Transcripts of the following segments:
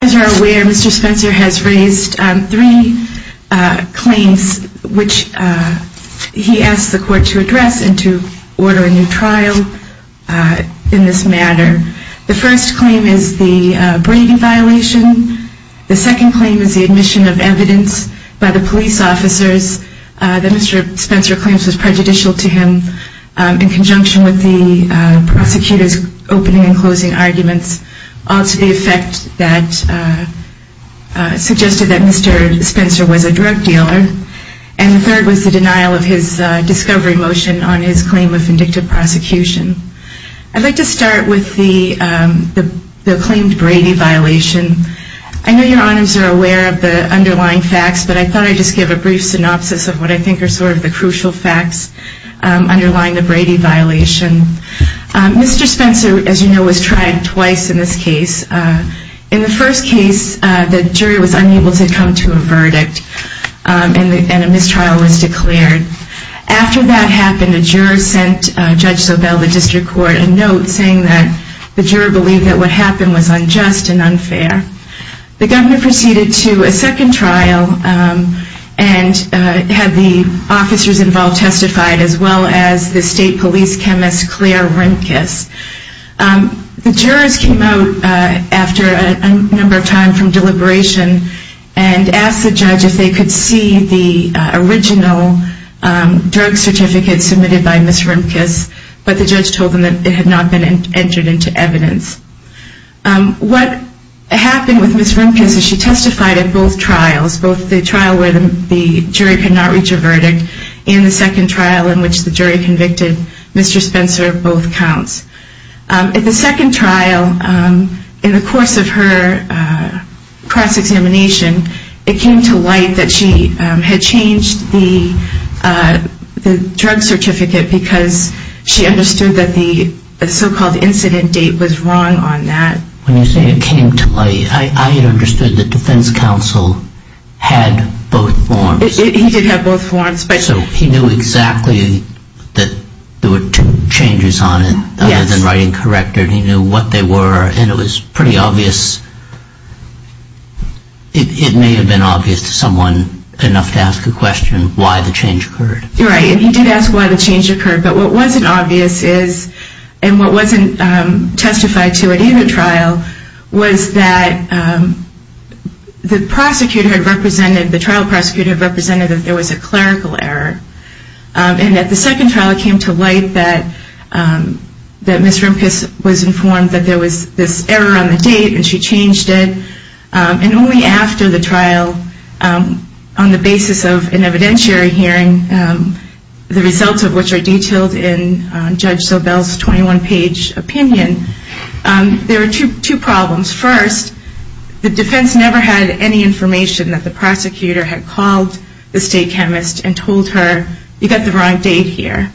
As you are aware, Mr. Spencer has raised three claims which he asked the court to address and to order a new trial in this matter. The first claim is the Brady violation. The second claim is the admission of evidence by the police officers that Mr. Spencer claims was prejudicial to him in conjunction with the prosecutor's opening and closing arguments to the effect that suggested that Mr. Spencer was a drug dealer. And the third was the denial of his discovery motion on his claim of vindictive prosecution. I'd like to start with the claimed Brady violation. I know your honors are aware of the underlying facts, but I thought I'd just give a brief synopsis of what I think are sort of the case. In the first case, the jury was unable to come to a verdict and a mistrial was declared. After that happened, a juror sent Judge Sobel to the district court a note saying that the juror believed that what happened was unjust and unfair. The governor proceeded to a second trial and had the officers involved testified, as well as the state police chemist Claire Rimkus. The jurors came out after a number of time from deliberation and asked the judge if they could see the original drug certificate submitted by Ms. Rimkus, but the judge told them that it had not been entered into evidence. What happened with Ms. Rimkus is she testified at both trials, both the trial where the jury could not reach a verdict and the second trial in which the jury convicted Mr. Spencer of both counts. At the second trial, in the course of her cross-examination, it came to light that she had changed the drug certificate because she understood that the so-called incident date was wrong on that. When you say it came to light, I had understood that defense counsel had both forms. He did have both forms. So he knew exactly that there were two changes on it, other than writing corrector, and he knew what they were, and it was pretty obvious, it may have been obvious to someone enough to ask a question, why the change occurred. Right, and he did ask why the change occurred, but what wasn't obvious is, and what wasn't testified to at either trial, was that the prosecutor had represented, the trial prosecutor had represented that there was a clerical error. And at the second trial, it came to light that Ms. Rimkus was informed that there was this error on the date, and she changed it. And only after the trial, on the basis of an evidentiary hearing, the results of which are First, the defense never had any information that the prosecutor had called the state chemist and told her, you've got the wrong date here.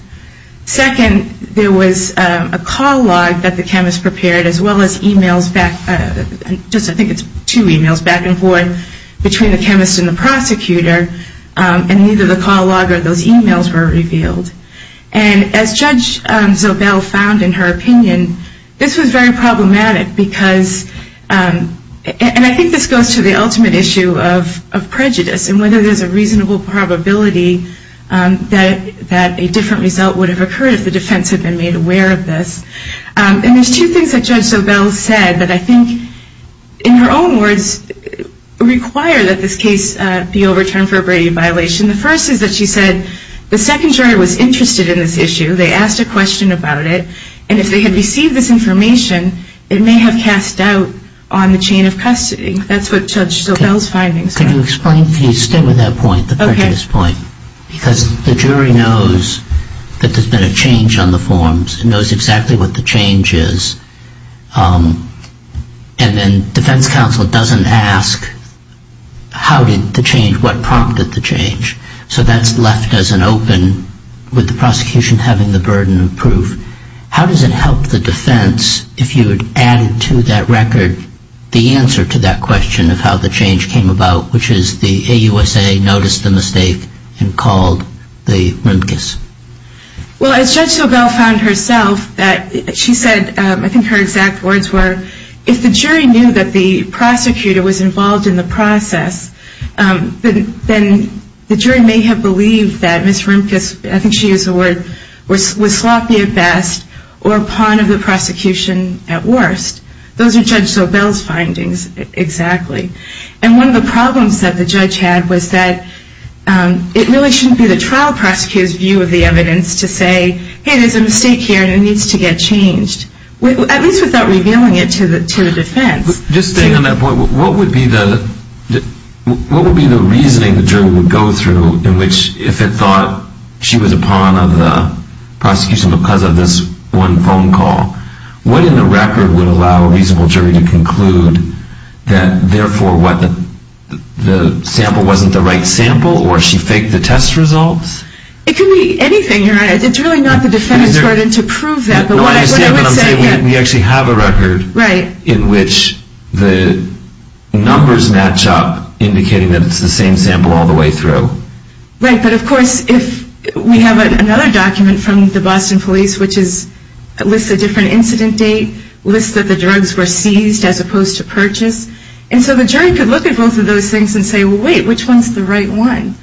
Second, there was a call log that the chemist prepared, as well as e-mails back, I think it's two e-mails back and forth between the chemist and the prosecutor, and neither the call log or those e-mails were revealed. And as Judge Zobel found in her opinion, this was very problematic because, and I think this goes to the ultimate issue of prejudice, and whether there's a reasonable probability that a different result would have occurred if the defense had been made aware of this. And there's two things that Judge Zobel said that I think, in her own words, require that this case be overturned for a Brady violation. The first is that she said the second jury was interested in this issue. They asked a question about it, and if they had received this information, it may have cast doubt on the chain of custody. That's what Judge Zobel's findings were. Can you explain? Can you stay with that point, the prejudice point? Okay. Because the jury knows that there's been a change on the forms. It knows exactly what the change is. And then defense counsel doesn't ask how did the change, what prompted the change. So that's left as an open with the prosecution having the burden of proof. How does it help the defense if you had added to that record the answer to that question of how the change came about, which is the AUSA noticed the mistake and called the RIMCAS? Well, as Judge Zobel found herself, she said, I think her exact words were, if the jury knew that the prosecutor was involved in the process, then the jury may have believed that Ms. RIMCAS, I think she used the word, was sloppy at best or a pawn of the prosecution at worst. Those are Judge Zobel's findings, exactly. And one of the problems that the judge had was that it really shouldn't be the trial prosecutor's view of the evidence to say, hey, there's a mistake here and it needs to get changed, at least without revealing it to the defense. Just staying on that point, what would be the reasoning the jury would go through in which if it thought she was a pawn of the prosecution because of this one phone call, what in the record would allow a reasonable jury to conclude that, therefore, the sample wasn't the right sample or she faked the test results? It could be anything, Your Honor. It's really not the defendant's burden to prove that. No, I understand, but I'm saying we actually have a record in which the numbers match up, indicating that it's the same sample all the way through. Right, but of course, if we have another document from the Boston police, which lists a different incident date, lists that the drugs were seized as opposed to purchased, and so the jury could look at both of those things and say, well, wait, which one's the right one?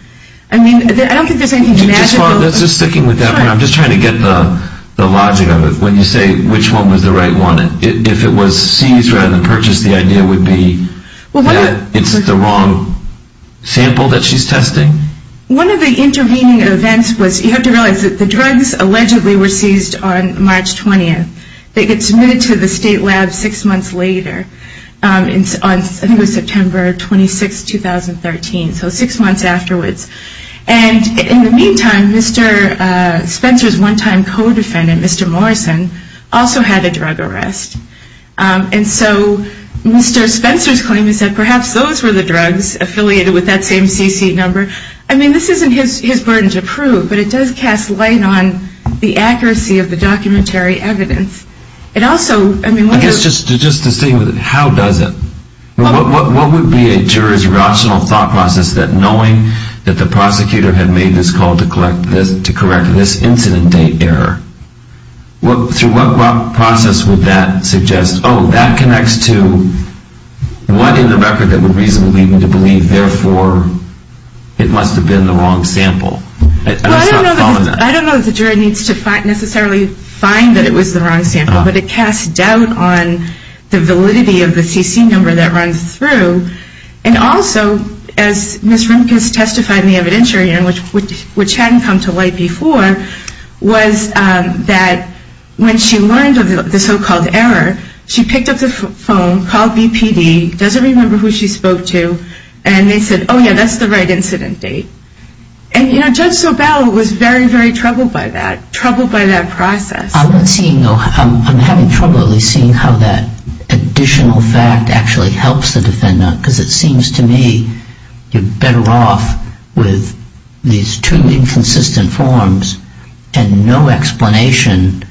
I mean, I don't think there's anything magical. Just sticking with that, I'm just trying to get the logic of it. When you say which one was the right one, if it was seized rather than purchased, the idea would be that it's the wrong sample that she's testing? One of the intervening events was you have to realize that the drugs allegedly were seized on March 20th. They get submitted to the state lab six months later, I think it was September 26, 2013, so six months afterwards. And in the meantime, Mr. Spencer's one-time co-defendant, Mr. Morrison, also had a drug arrest. And so Mr. Spencer's claim is that perhaps those were the drugs affiliated with that same CC number. I mean, this isn't his burden to prove, but it does cast light on the accuracy of the documentary evidence. I guess just to stay with it, how does it? What would be a juror's rational thought process that knowing that the prosecutor had made this call to correct this incident date error, through what process would that suggest, oh, that connects to what in the record that would reasonably lead me to believe, therefore, it must have been the wrong sample? I don't know if the juror needs to necessarily find that it was the wrong sample, but it casts doubt on the validity of the CC number that runs through. And also, as Ms. Rimkus testified in the evidentiary, which hadn't come to light before, was that when she learned of the so-called error, she picked up the phone, called BPD, doesn't remember who she spoke to, and they said, oh, yeah, that's the right incident date. And Judge Sobel was very, very troubled by that, troubled by that process. I'm having trouble at least seeing how that additional fact actually helps the defendant, because it seems to me you're better off with these two inconsistent forms and no explanation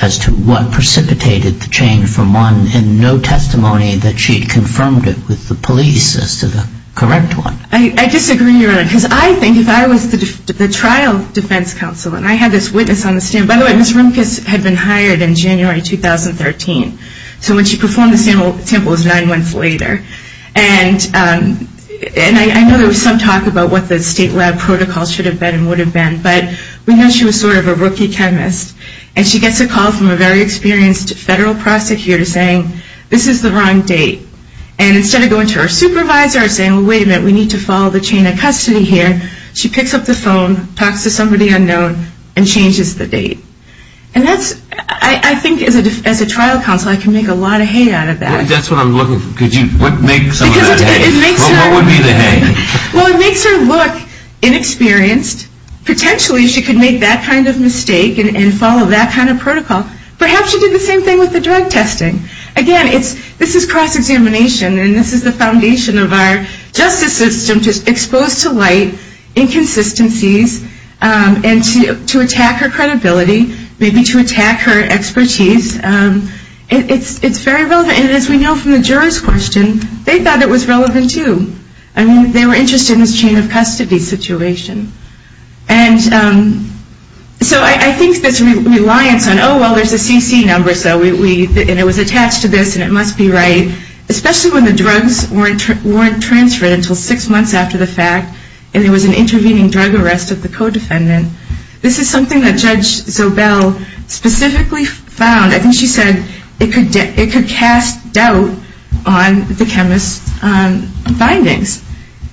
as to what precipitated the change from one, and no testimony that she had confirmed it with the police as to the correct one. I disagree, because I think if I was the trial defense counsel, and I had this witness on the stand. By the way, Ms. Rimkus had been hired in January 2013. So when she performed the sample, it was nine months later. And I know there was some talk about what the state lab protocol should have been and would have been, but we know she was sort of a rookie chemist, and she gets a call from a very experienced federal prosecutor saying, this is the wrong date. And instead of going to her supervisor and saying, wait a minute, we need to follow the chain of custody here, she picks up the phone, talks to somebody unknown, and changes the date. And that's, I think as a trial counsel, I can make a lot of hay out of that. That's what I'm looking for. Could you make some of that hay? What would be the hay? Well, it makes her look inexperienced. Potentially she could make that kind of mistake and follow that kind of protocol. Perhaps she did the same thing with the drug testing. Again, this is cross-examination, and this is the foundation of our justice system to expose to light inconsistencies and to attack her credibility, maybe to attack her expertise. It's very relevant. And as we know from the jurors' question, they thought it was relevant too. I mean, they were interested in this chain of custody situation. And so I think this reliance on, oh, well, there's a CC number, and it was attached to this, and it must be right, especially when the drugs weren't transferred until six months after the fact and there was an intervening drug arrest of the co-defendant. This is something that Judge Zobel specifically found. I think she said it could cast doubt on the chemist's findings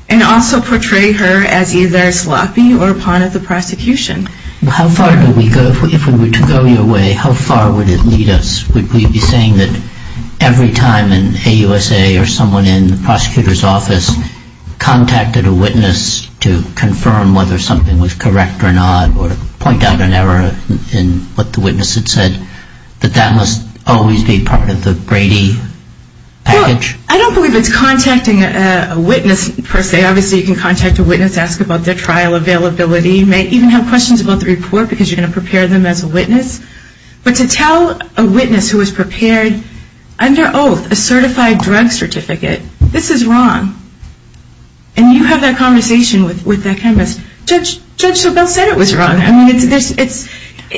and also portray her as either sloppy or a pawn of the prosecution. Well, how far do we go? If we were to go your way, how far would it lead us? Would we be saying that every time an AUSA or someone in the prosecutor's office contacted a witness to confirm whether something was correct or not or to point out an error in what the witness had said, that that must always be part of the Brady package? Well, I don't believe it's contacting a witness per se. Obviously, you can contact a witness, ask about their trial availability, you may even have questions about the report because you're going to prepare them as a witness. But to tell a witness who was prepared under oath a certified drug certificate, this is wrong. And you have that conversation with that chemist. Judge Zobel said it was wrong.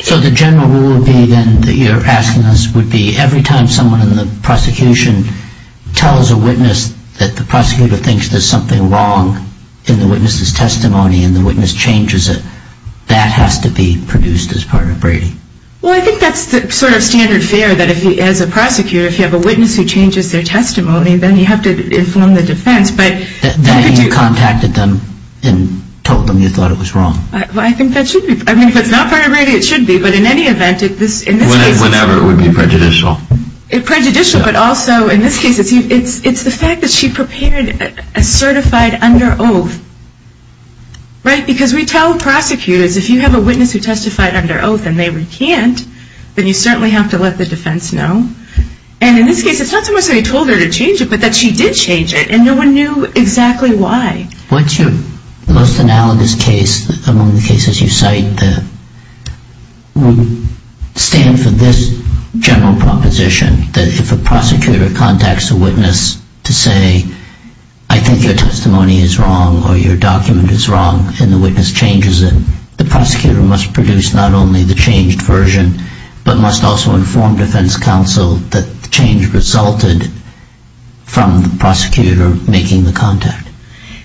So the general rule would be then that you're asking us would be every time someone in the prosecution tells a witness that the prosecutor thinks there's something wrong in the witness's testimony and the witness changes it, that has to be produced as part of Brady. Well, I think that's the sort of standard fare that as a prosecutor, if you have a witness who changes their testimony, then you have to inform the defense. That you contacted them and told them you thought it was wrong. Well, I think that should be. I mean, if it's not part of Brady, it should be. But in any event, in this case... Whenever it would be prejudicial. Prejudicial, but also in this case, it's the fact that she prepared a certified under oath. Right? Because we tell prosecutors if you have a witness who testified under oath and they recant, then you certainly have to let the defense know. And in this case, it's not so much that he told her to change it, but that she did change it. And no one knew exactly why. What's your most analogous case among the cases you cite that would stand for this general proposition? That if a prosecutor contacts a witness to say, I think your testimony is wrong or your document is wrong and the witness changes it, the prosecutor must produce not only the changed version, but must also inform defense counsel that the change resulted from the prosecutor making the contact.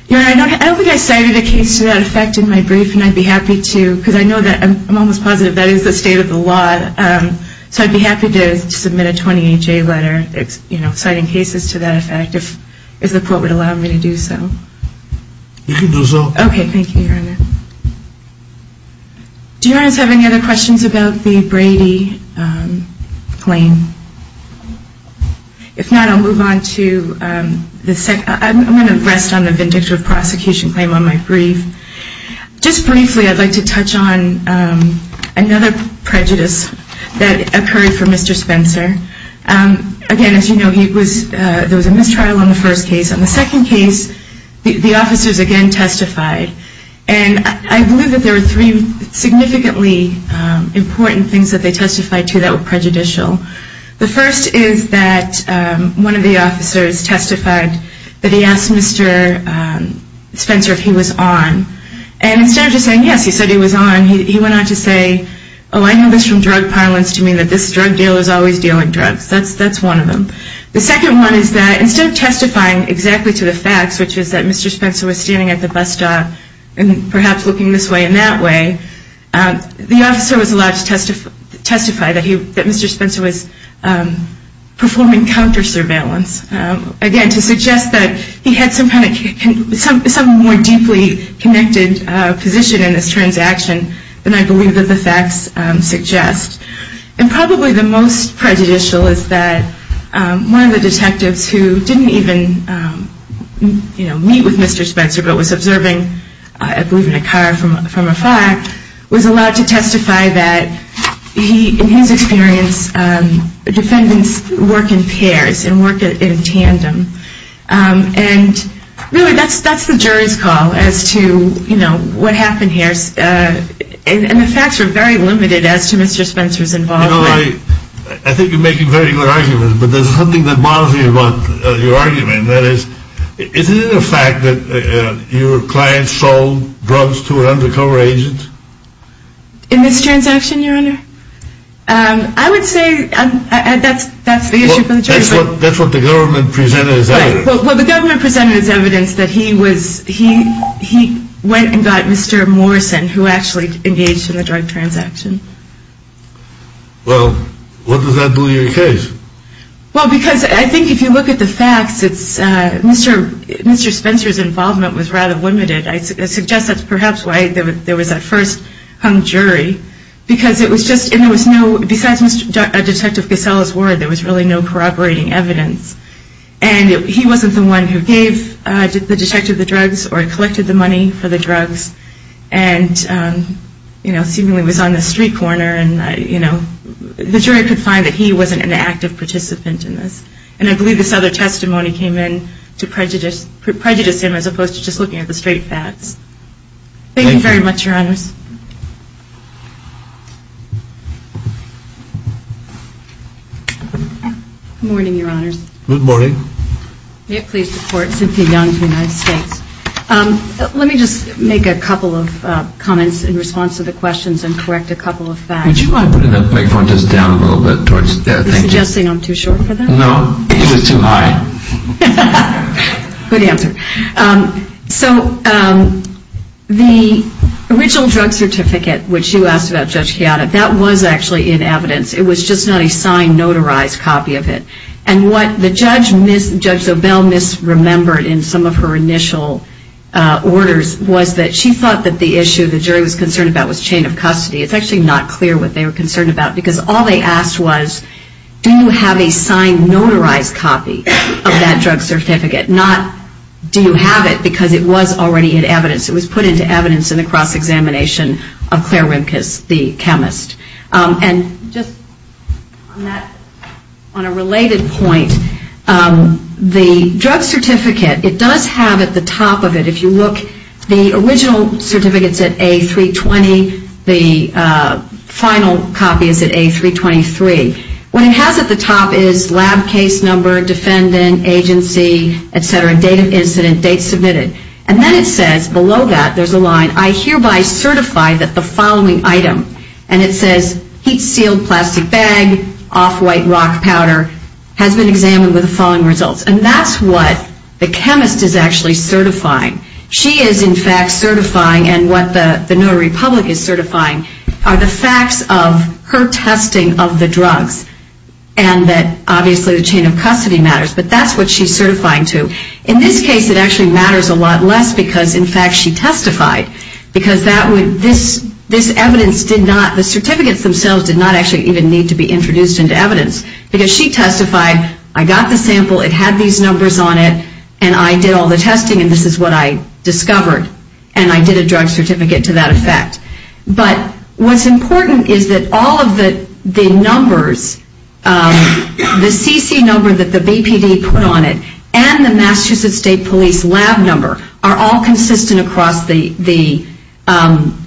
Your Honor, I don't think I cited a case to that effect in my brief, and I'd be happy to, because I know that I'm almost positive that is the state of the law. So I'd be happy to submit a 28-J letter citing cases to that effect, if the court would allow me to do so. You can do so. Okay, thank you, Your Honor. Do Your Honors have any other questions about the Brady claim? If not, I'll move on to the second. I'm going to rest on the vindictive prosecution claim on my brief. Just briefly, I'd like to touch on another prejudice that occurred for Mr. Spencer. Again, as you know, there was a mistrial on the first case. On the second case, the officers again testified. And I believe that there were three significantly important things that they testified to that were prejudicial. The first is that one of the officers testified that he asked Mr. Spencer if he was on. And instead of just saying yes, he said he was on, he went on to say, oh, I know this from drug parlance to mean that this drug dealer is always dealing drugs. That's one of them. The second one is that instead of testifying exactly to the facts, which is that Mr. Spencer was standing at the bus stop and perhaps looking this way and that way, the officer was allowed to testify that Mr. Spencer was performing counter surveillance. Again, to suggest that he had some kind of more deeply connected position in this transaction than I believe that the facts suggest. And probably the most prejudicial is that one of the detectives who didn't even, you know, meet with Mr. Spencer but was observing, I believe, in a car from afar, was allowed to testify that he, in his experience, defendants work in pairs and work in tandem. And really, that's the jury's call as to, you know, what happened here. And the facts are very limited as to Mr. Spencer's involvement. You know, I think you're making very good arguments, but there's something that bothers me about your argument. That is, isn't it a fact that your client sold drugs to an undercover agent? In this transaction, Your Honor? I would say that's the issue for the jury. That's what the government presented as evidence. Well, the government presented as evidence that he was, he went and got Mr. Morrison, who actually engaged in the drug transaction. Well, what does that do to your case? Well, because I think if you look at the facts, Mr. Spencer's involvement was rather limited. I suggest that's perhaps why there was a first hung jury, because it was just, and there was no, besides Detective Casella's word, there was really no corroborating evidence. And he wasn't the one who gave the detective the drugs or collected the money for the drugs. And, you know, seemingly was on the street corner and, you know, the jury could find that he wasn't an active participant in this. And I believe this other testimony came in to prejudice him as opposed to just looking at the straight facts. Thank you very much, Your Honors. Good morning, Your Honors. Good morning. May it please the Court, Cynthia Young of the United States. Let me just make a couple of comments in response to the questions and correct a couple of facts. Would you mind putting that microphone just down a little bit towards there? Are you suggesting I'm too short for that? No, it was too high. Good answer. So the original drug certificate, which you asked about, Judge Chiata, that was actually in evidence. It was just not a signed, notarized copy of it. And what Judge Zobel misremembered in some of her initial orders was that she thought that the issue the jury was concerned about was chain of custody. It's actually not clear what they were concerned about, because all they asked was, do you have a signed, notarized copy of that drug certificate? Not do you have it, because it was already in evidence. It was put into evidence in the cross-examination of Claire Rimkus, the chemist. And just on that, on a related point, the drug certificate, it does have at the top of it, if you look, the original certificate is at A320. The final copy is at A323. What it has at the top is lab case number, defendant, agency, et cetera, date of incident, date submitted. And then it says below that, there's a line, I hereby certify that the following item, and it says, heat-sealed plastic bag, off-white rock powder, has been examined with the following results. And that's what the chemist is actually certifying. She is, in fact, certifying, and what the New Republic is certifying, are the facts of her testing of the drugs. And that, obviously, the chain of custody matters. But that's what she's certifying to. In this case, it actually matters a lot less, because, in fact, she testified. Because this evidence did not, the certificates themselves did not actually even need to be introduced into evidence. Because she testified, I got the sample, it had these numbers on it, and I did all the testing, and this is what I discovered. And I did a drug certificate to that effect. But what's important is that all of the numbers, the CC number that the BPD put on it, and the Massachusetts State Police lab number, are all consistent across the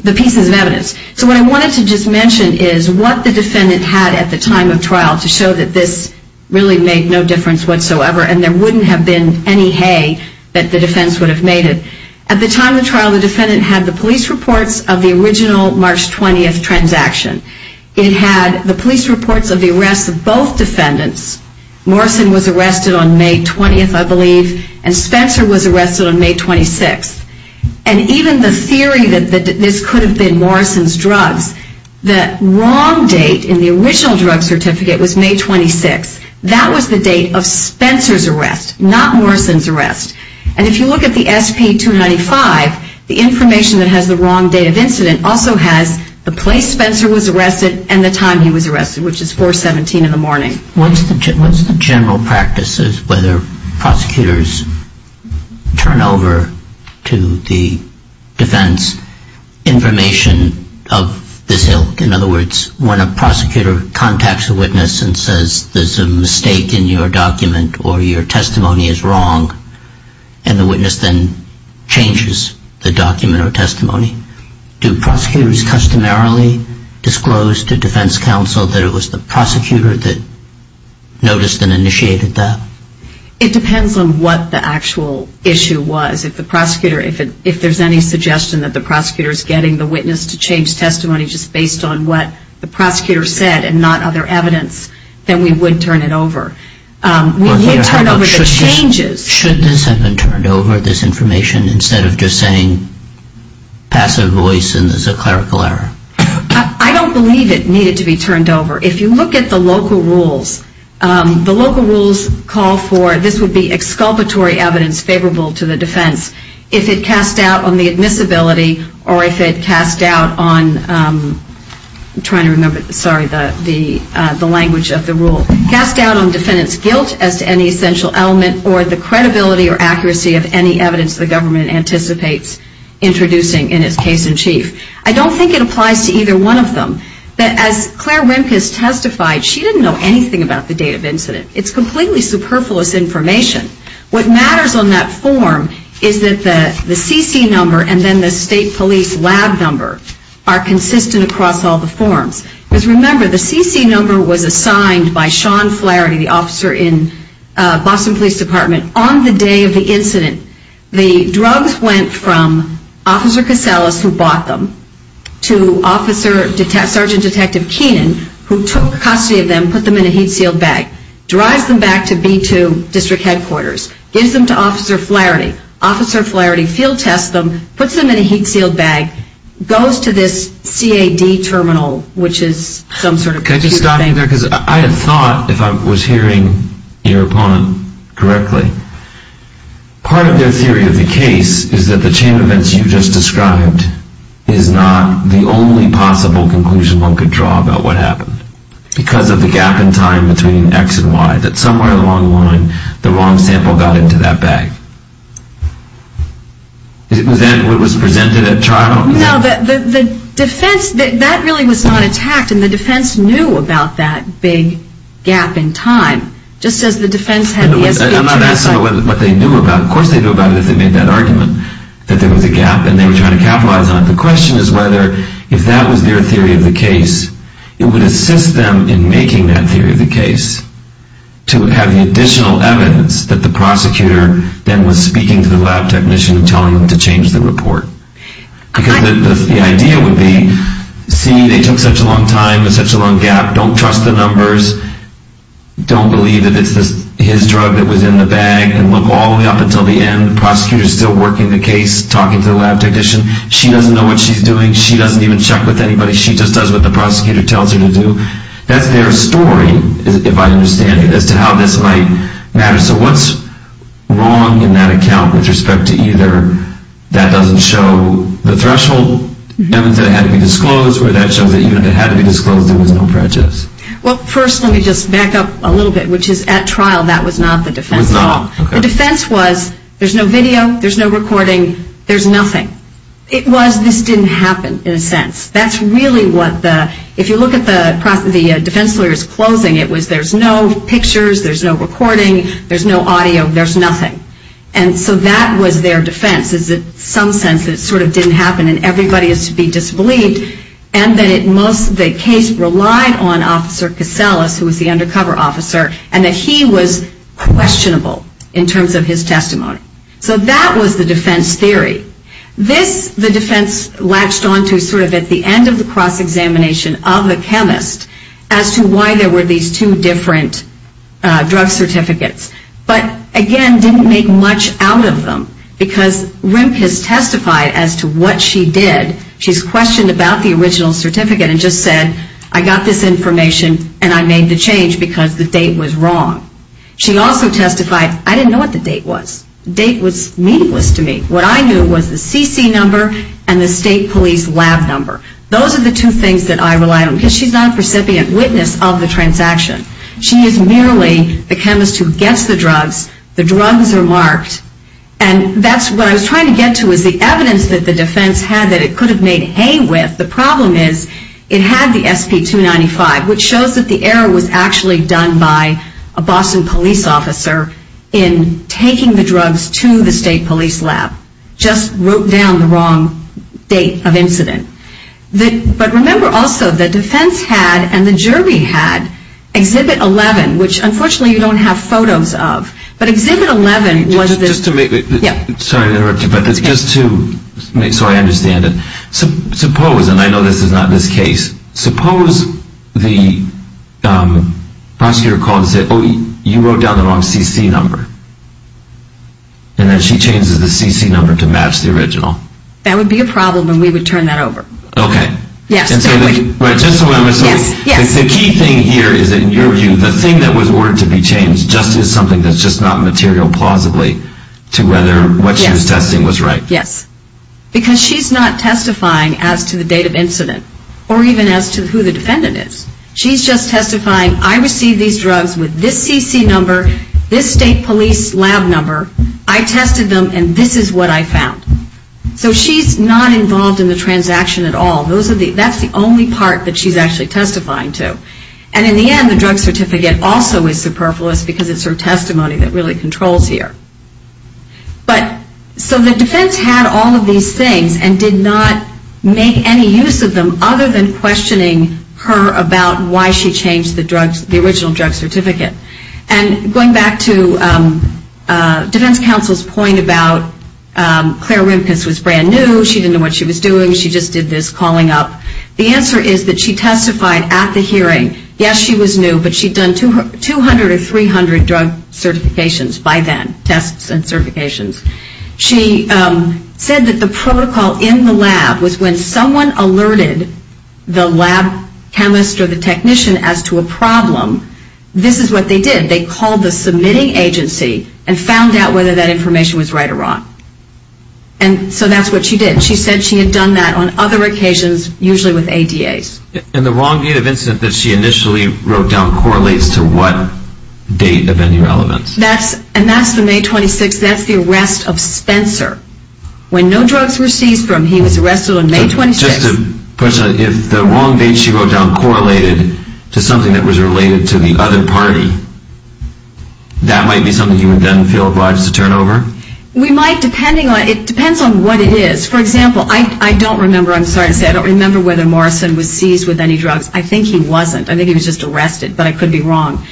pieces of evidence. So what I wanted to just mention is what the defendant had at the time of trial to show that this really made no difference whatsoever, and there wouldn't have been any hay that the defense would have made it. At the time of the trial, the defendant had the police reports of the original March 20th transaction. It had the police reports of the arrests of both defendants. Morrison was arrested on May 20th, I believe, and Spencer was arrested on May 26th. And even the theory that this could have been Morrison's drugs, the wrong date in the original drug certificate was May 26th. That was the date of Spencer's arrest, not Morrison's arrest. And if you look at the SP-295, the information that has the wrong date of incident also has the place Spencer was arrested and the time he was arrested, which is 417 in the morning. What's the general practice as whether prosecutors turn over to the defense information of this hill? In other words, when a prosecutor contacts a witness and says there's a mistake in your document or your testimony is wrong, and the witness then changes the document or testimony, do prosecutors customarily disclose to defense counsel that it was the prosecutor that noticed and initiated that? It depends on what the actual issue was. If there's any suggestion that the prosecutor is getting the witness to change testimony just based on what the prosecutor said and not other evidence, then we would turn it over. We would turn over the changes. Should this have been turned over, this information, instead of just saying passive voice and this is a clerical error? I don't believe it needed to be turned over. If you look at the local rules, the local rules call for this would be exculpatory evidence favorable to the defense. If it cast doubt on the admissibility or if it cast doubt on I'm trying to remember, sorry, the language of the rule. Cast doubt on defendant's guilt as to any essential element or the credibility or accuracy of any evidence the government anticipates introducing in its case in chief. I don't think it applies to either one of them. As Claire Wimkes testified, she didn't know anything about the date of incident. It's completely superfluous information. What matters on that form is that the CC number and then the state police lab number are consistent across all the forms. Because remember, the CC number was assigned by Sean Flaherty, the officer in Boston Police Department. On the day of the incident, the drugs went from Officer Caselas who bought them to Sergeant Detective Keenan who took custody of them, put them in a heat sealed bag. Drives them back to B2 district headquarters. Gives them to Officer Flaherty. Officer Flaherty field tests them, puts them in a heat sealed bag, goes to this CAD terminal, which is some sort of computer thing. Can I just stop you there? Because I had thought, if I was hearing your opponent correctly, part of their theory of the case is that the chain of events you just described is not the only possible conclusion one could draw about what happened. Because of the gap in time between X and Y, that somewhere along the line, the wrong sample got into that bag. Is that what was presented at trial? No, the defense, that really was not attacked, and the defense knew about that big gap in time. Just as the defense had the SBA track site. I'm not asking what they knew about it. Of course they knew about it if they made that argument, that there was a gap and they were trying to capitalize on it. The question is whether if that was their theory of the case, it would assist them in making that theory of the case to have the additional evidence that the prosecutor then was speaking to the lab technician and telling them to change the report. Because the idea would be, see, they took such a long time, there's such a long gap, don't trust the numbers, don't believe that it's his drug that was in the bag, and look all the way up until the end, the prosecutor's still working the case, talking to the lab technician, she doesn't know what she's doing, she doesn't even check with anybody, she just does what the prosecutor tells her to do. That's their story, if I understand it, as to how this might matter. So what's wrong in that account with respect to either that doesn't show the threshold evidence that had to be disclosed, or that shows that even if it had to be disclosed there was no prejudice? Well, first let me just back up a little bit, which is at trial that was not the defense at all. The defense was there's no video, there's no recording, there's nothing. It was this didn't happen, in a sense. That's really what the, if you look at the defense lawyer's closing, it was there's no pictures, there's no recording, there's no audio, there's nothing. And so that was their defense, is that in some sense it sort of didn't happen and everybody is to be disbelieved, and that the case relied on Officer Caselas, who was the undercover officer, and that he was questionable in terms of his testimony. So that was the defense theory. This the defense latched onto sort of at the end of the cross-examination of the chemist as to why there were these two different drug certificates. But, again, didn't make much out of them, because RIMP has testified as to what she did. She's questioned about the original certificate and just said, I got this information and I made the change because the date was wrong. She also testified, I didn't know what the date was. The date was meaningless to me. What I knew was the CC number and the state police lab number. Those are the two things that I rely on, because she's not a recipient witness of the transaction. She is merely the chemist who gets the drugs. The drugs are marked. And that's what I was trying to get to, is the evidence that the defense had that it could have made hay with. The problem is it had the SP-295, which shows that the error was actually done by a Boston police officer in taking the drugs to the state police lab. Just wrote down the wrong date of incident. But remember also, the defense had and the jury had Exhibit 11, which unfortunately you don't have photos of. But Exhibit 11 was this... Just to make... Sorry to interrupt you, but just to make sure I understand it. Suppose, and I know this is not this case, suppose the prosecutor called and said, Oh, you wrote down the wrong CC number. And then she changes the CC number to match the original. That would be a problem and we would turn that over. Okay. Yes. Just a moment. The key thing here is that in your view, the thing that was ordered to be changed just is something that's just not material plausibly to whether what she was testing was right. Yes. Because she's not testifying as to the date of incident or even as to who the defendant is. She's just testifying, I received these drugs with this CC number, this state police lab number. I tested them and this is what I found. So she's not involved in the transaction at all. That's the only part that she's actually testifying to. And in the end, the drug certificate also is superfluous because it's her testimony that really controls here. But, so the defense had all of these things and did not make any use of them other than questioning her about why she changed the drugs, the original drug certificate. And going back to defense counsel's point about Claire Rimpus was brand new, she didn't know what she was doing, she just did this calling up. The answer is that she testified at the hearing. Yes, she was new, but she'd done 200 or 300 drug certifications by then, tests and certifications. She said that the protocol in the lab was when someone alerted the lab chemist or the technician as to a problem, this is what they did. They called the submitting agency and found out whether that information was right or wrong. And so that's what she did. She said she had done that on other occasions, usually with ADAs. And the wrong date of incident that she initially wrote down correlates to what date of irrelevance? And that's the May 26th, that's the arrest of Spencer. When no drugs were seized from him, he was arrested on May 26th. Just a question, if the wrong date she wrote down correlated to something that was related to the other party, that might be something he would then feel obliged to turn over? We might, depending on, it depends on what it is. For example, I don't remember, I'm sorry to say, I don't remember whether Morrison was seized with any drugs. I think he wasn't, I think he was just arrested, but I could be wrong.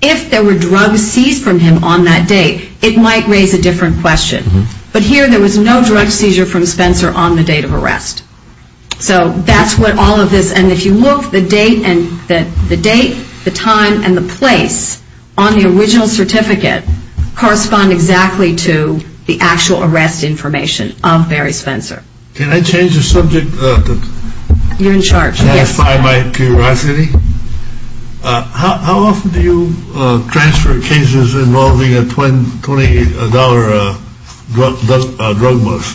If there were drugs seized from him on that date, it might raise a different question. But here there was no drug seizure from Spencer on the date of arrest. So that's what all of this, and if you look, the date and the time and the place on the original certificate correspond exactly to the actual arrest information of Barry Spencer. Can I change the subject? You're in charge, yes. To satisfy my curiosity, how often do you transfer cases involving a $20 drug bust?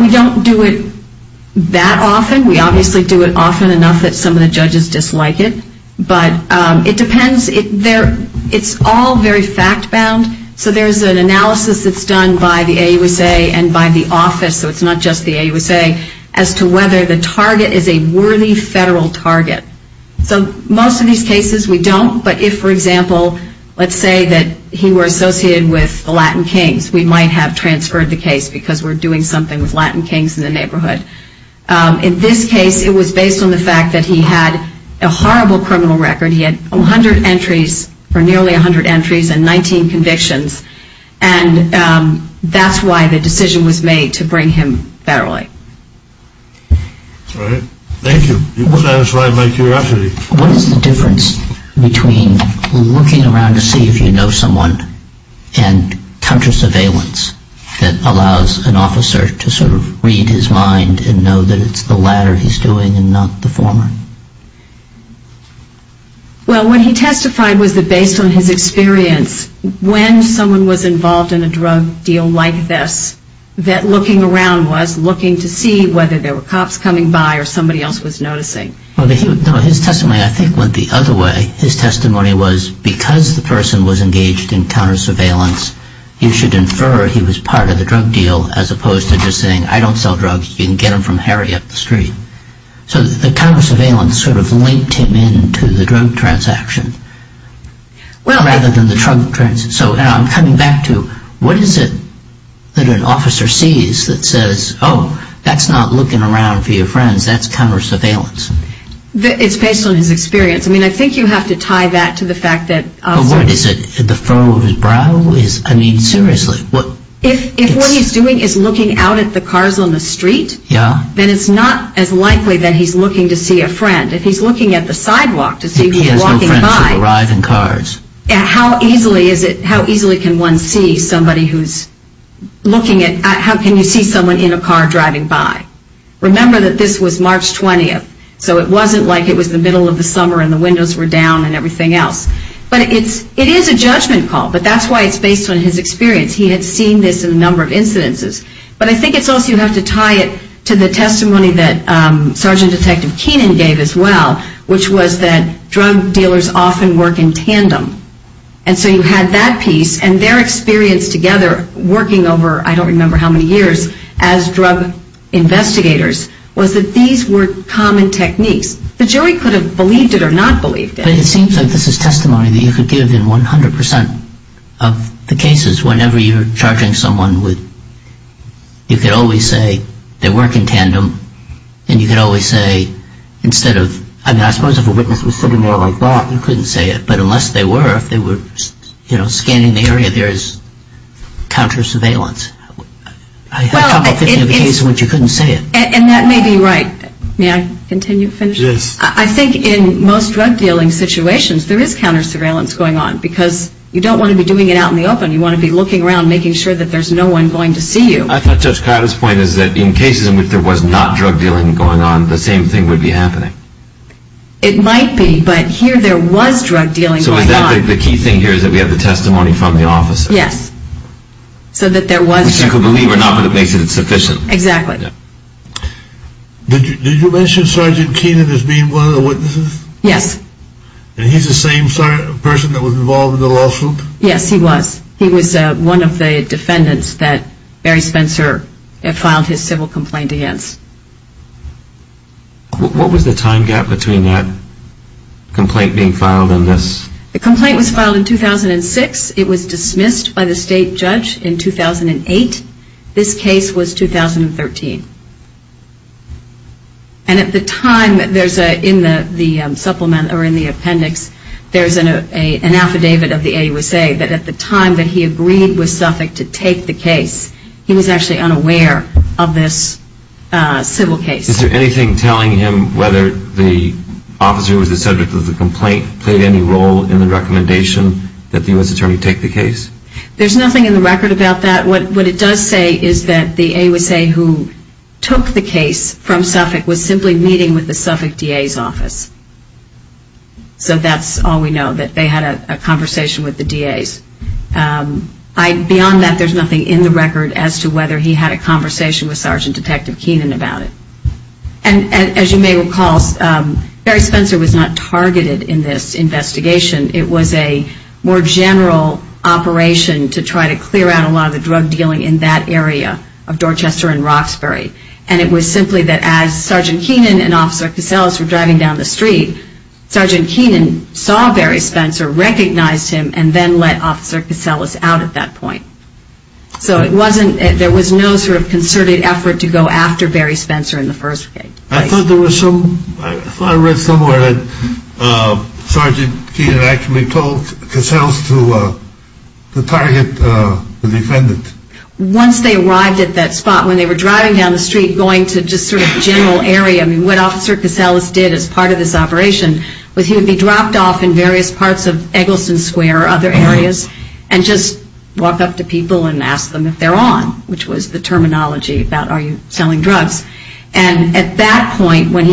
We don't do it that often. We obviously do it often enough that some of the judges dislike it. But it depends, it's all very fact-bound. So there's an analysis that's done by the AUSA and by the office, so it's not just the AUSA, as to whether the target is a worthy federal target. So most of these cases we don't, but if, for example, let's say that he were associated with the Latin Kings, we might have transferred the case because we're doing something with Latin Kings in the neighborhood. In this case, it was based on the fact that he had a horrible criminal record. He had 100 entries, or nearly 100 entries, and 19 convictions. And that's why the decision was made to bring him federally. All right. Thank you. You've satisfied my curiosity. What is the difference between looking around to see if you know someone and counter-surveillance that allows an officer to sort of read his mind and know that it's the latter he's doing and not the former? Well, what he testified was that based on his experience, when someone was involved in a drug deal like this, that looking around was looking to see whether there were cops coming by or somebody else was noticing. No, his testimony, I think, went the other way. His testimony was because the person was engaged in counter-surveillance, you should infer he was part of the drug deal, as opposed to just saying, I don't sell drugs, you can get them from Harry up the street. So the counter-surveillance sort of linked him in to the drug transaction. Rather than the drug transaction. So I'm coming back to what is it that an officer sees that says, oh, that's not looking around for your friends, that's counter-surveillance. It's based on his experience. I mean, I think you have to tie that to the fact that... But what is it, the furrow of his brow? I mean, seriously. If what he's doing is looking out at the cars on the street, then it's not as likely that he's looking to see a friend. If he's looking at the sidewalk to see if he's walking by... How easily can one see somebody who's looking at... How can you see someone in a car driving by? Remember that this was March 20th. So it wasn't like it was the middle of the summer and the windows were down and everything else. But it is a judgment call. But that's why it's based on his experience. He had seen this in a number of incidences. But I think it's also you have to tie it to the testimony that Sergeant Detective Keenan gave as well, which was that drug dealers often work in tandem. And so you had that piece and their experience together working over I don't remember how many years as drug investigators was that these were common techniques. The jury could have believed it or not believed it. But it seems like this is testimony that you could give in 100% of the cases whenever you're charging someone with... You could always say they work in tandem and you could always say instead of... I suppose if a witness was sitting there like that, you couldn't say it. But unless they were, if they were scanning the area, there is counter-surveillance. I have a couple of cases in which you couldn't say it. And that may be right. May I continue? Yes. I think in most drug dealing situations, there is counter-surveillance going on because you don't want to be doing it out in the open. You want to be looking around, making sure that there's no one going to see you. I thought Judge Kyle's point is that in cases in which there was not drug dealing going on, the same thing would be happening. It might be, but here there was drug dealing going on. So is that the key thing here is that we have the testimony from the officer? Yes. So that there was... Which you could believe or not, but it makes it insufficient. Exactly. Did you mention Sergeant Keenan as being one of the witnesses? Yes. And he's the same person that was involved in the lawsuit? Yes, he was. He was one of the defendants that Barry Spencer filed his civil complaint against. What was the time gap between that complaint being filed and this? The complaint was filed in 2006. It was dismissed by the state judge in 2008. This case was 2013. And at the time, in the appendix, there's an affidavit of the AUSA that at the time that he agreed with Suffolk to take the case, he was actually unaware of this civil case. Is there anything telling him whether the officer who was the subject of the complaint played any role in the recommendation that the U.S. Attorney take the case? There's nothing in the record about that. What it does say is that the AUSA who took the case from Suffolk was simply meeting with the Suffolk DA's office. So that's all we know, that they had a conversation with the DA's. Beyond that, there's nothing in the record as to whether he had a conversation with Sgt. Detective Keenan about it. And as you may recall, Barry Spencer was not targeted in this investigation. It was a more general operation to try to clear out a lot of the drug dealing in that area of Dorchester and Roxbury. And it was simply that as Sgt. Keenan and Officer Caseles were driving down the street, Sgt. Keenan saw Barry Spencer, recognized him and then let Officer Caseles out at that point. So there was no sort of concerted effort to go after Barry Spencer in the first place. I thought I read somewhere that Sgt. Keenan actually told Caseles to target the defendant. Once they arrived at that spot, when they were driving down the street going to just sort of general area, what Officer Caseles did as part of this operation was he would be dropped off in various parts of Eggleston Square or other areas and just walk up to people and ask them if they're on, which was the terminology about are you selling drugs. And at that point, when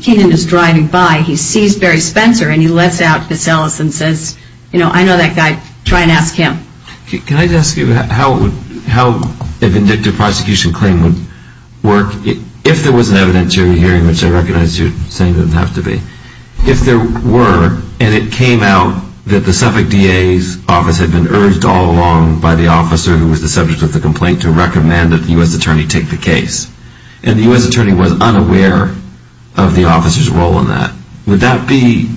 Keenan is driving by, he sees Barry Spencer and he lets out Caseles and says, you know, I know that guy, try and ask him. Can I just ask you how a vindictive prosecution claim would work if there was an evidentiary hearing, which I recognize you're saying doesn't have to be, if there were and it came out that the Suffolk DA's office had been urged all along by the officer who was the subject of the complaint to recommend that the U.S. attorney take the case and the U.S. attorney was unaware of the officer's role in that, would that be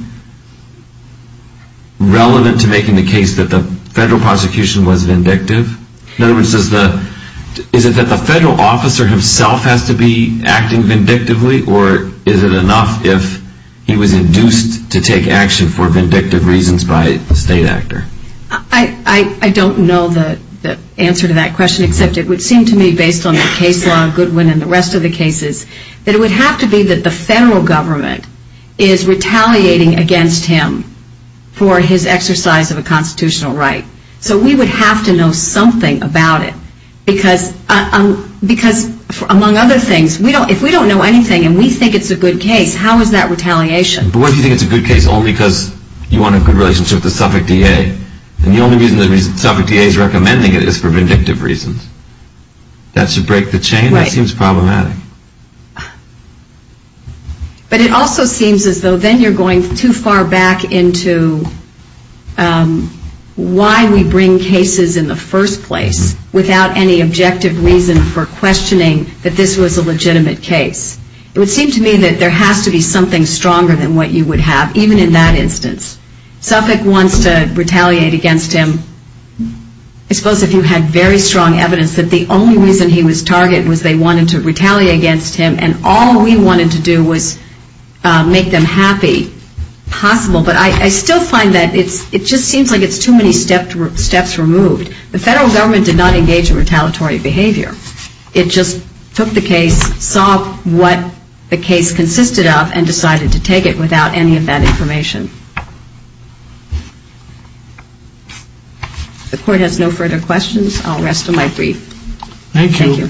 relevant to making the case that the federal prosecution was vindictive? In other words, is it that the federal officer himself has to be acting vindictively or is it enough if he was induced to take action for vindictive reasons by a state actor? I don't know the answer to that question except it would seem to me based on the case law of Goodwin and the rest of the cases that it would have to be that the federal government is retaliating against him for his exercise of a constitutional right. So we would have to know something about it because, among other things, if we don't know anything and we think it's a good case, how is that retaliation? But what if you think it's a good case only because you want a good relationship with the Suffolk DA and the only reason the Suffolk DA is recommending it is for vindictive reasons? That should break the chain. That seems problematic. But it also seems as though then you're going too far back into why we bring cases in the first place without any objective reason for questioning that this was a legitimate case. It would seem to me that there has to be something stronger than what you would have, even in that instance. Suffolk wants to retaliate against him. I suppose if you had very strong evidence that the only reason he was targeted was they wanted to retaliate against him and all we wanted to do was make them happy, possible. But I still find that it just seems like it's too many steps removed. The federal government did not engage in retaliatory behavior. It just took the case, saw what the case consisted of, and decided to take it without any of that information. The Court has no further questions. I'll rest on my brief. Thank you.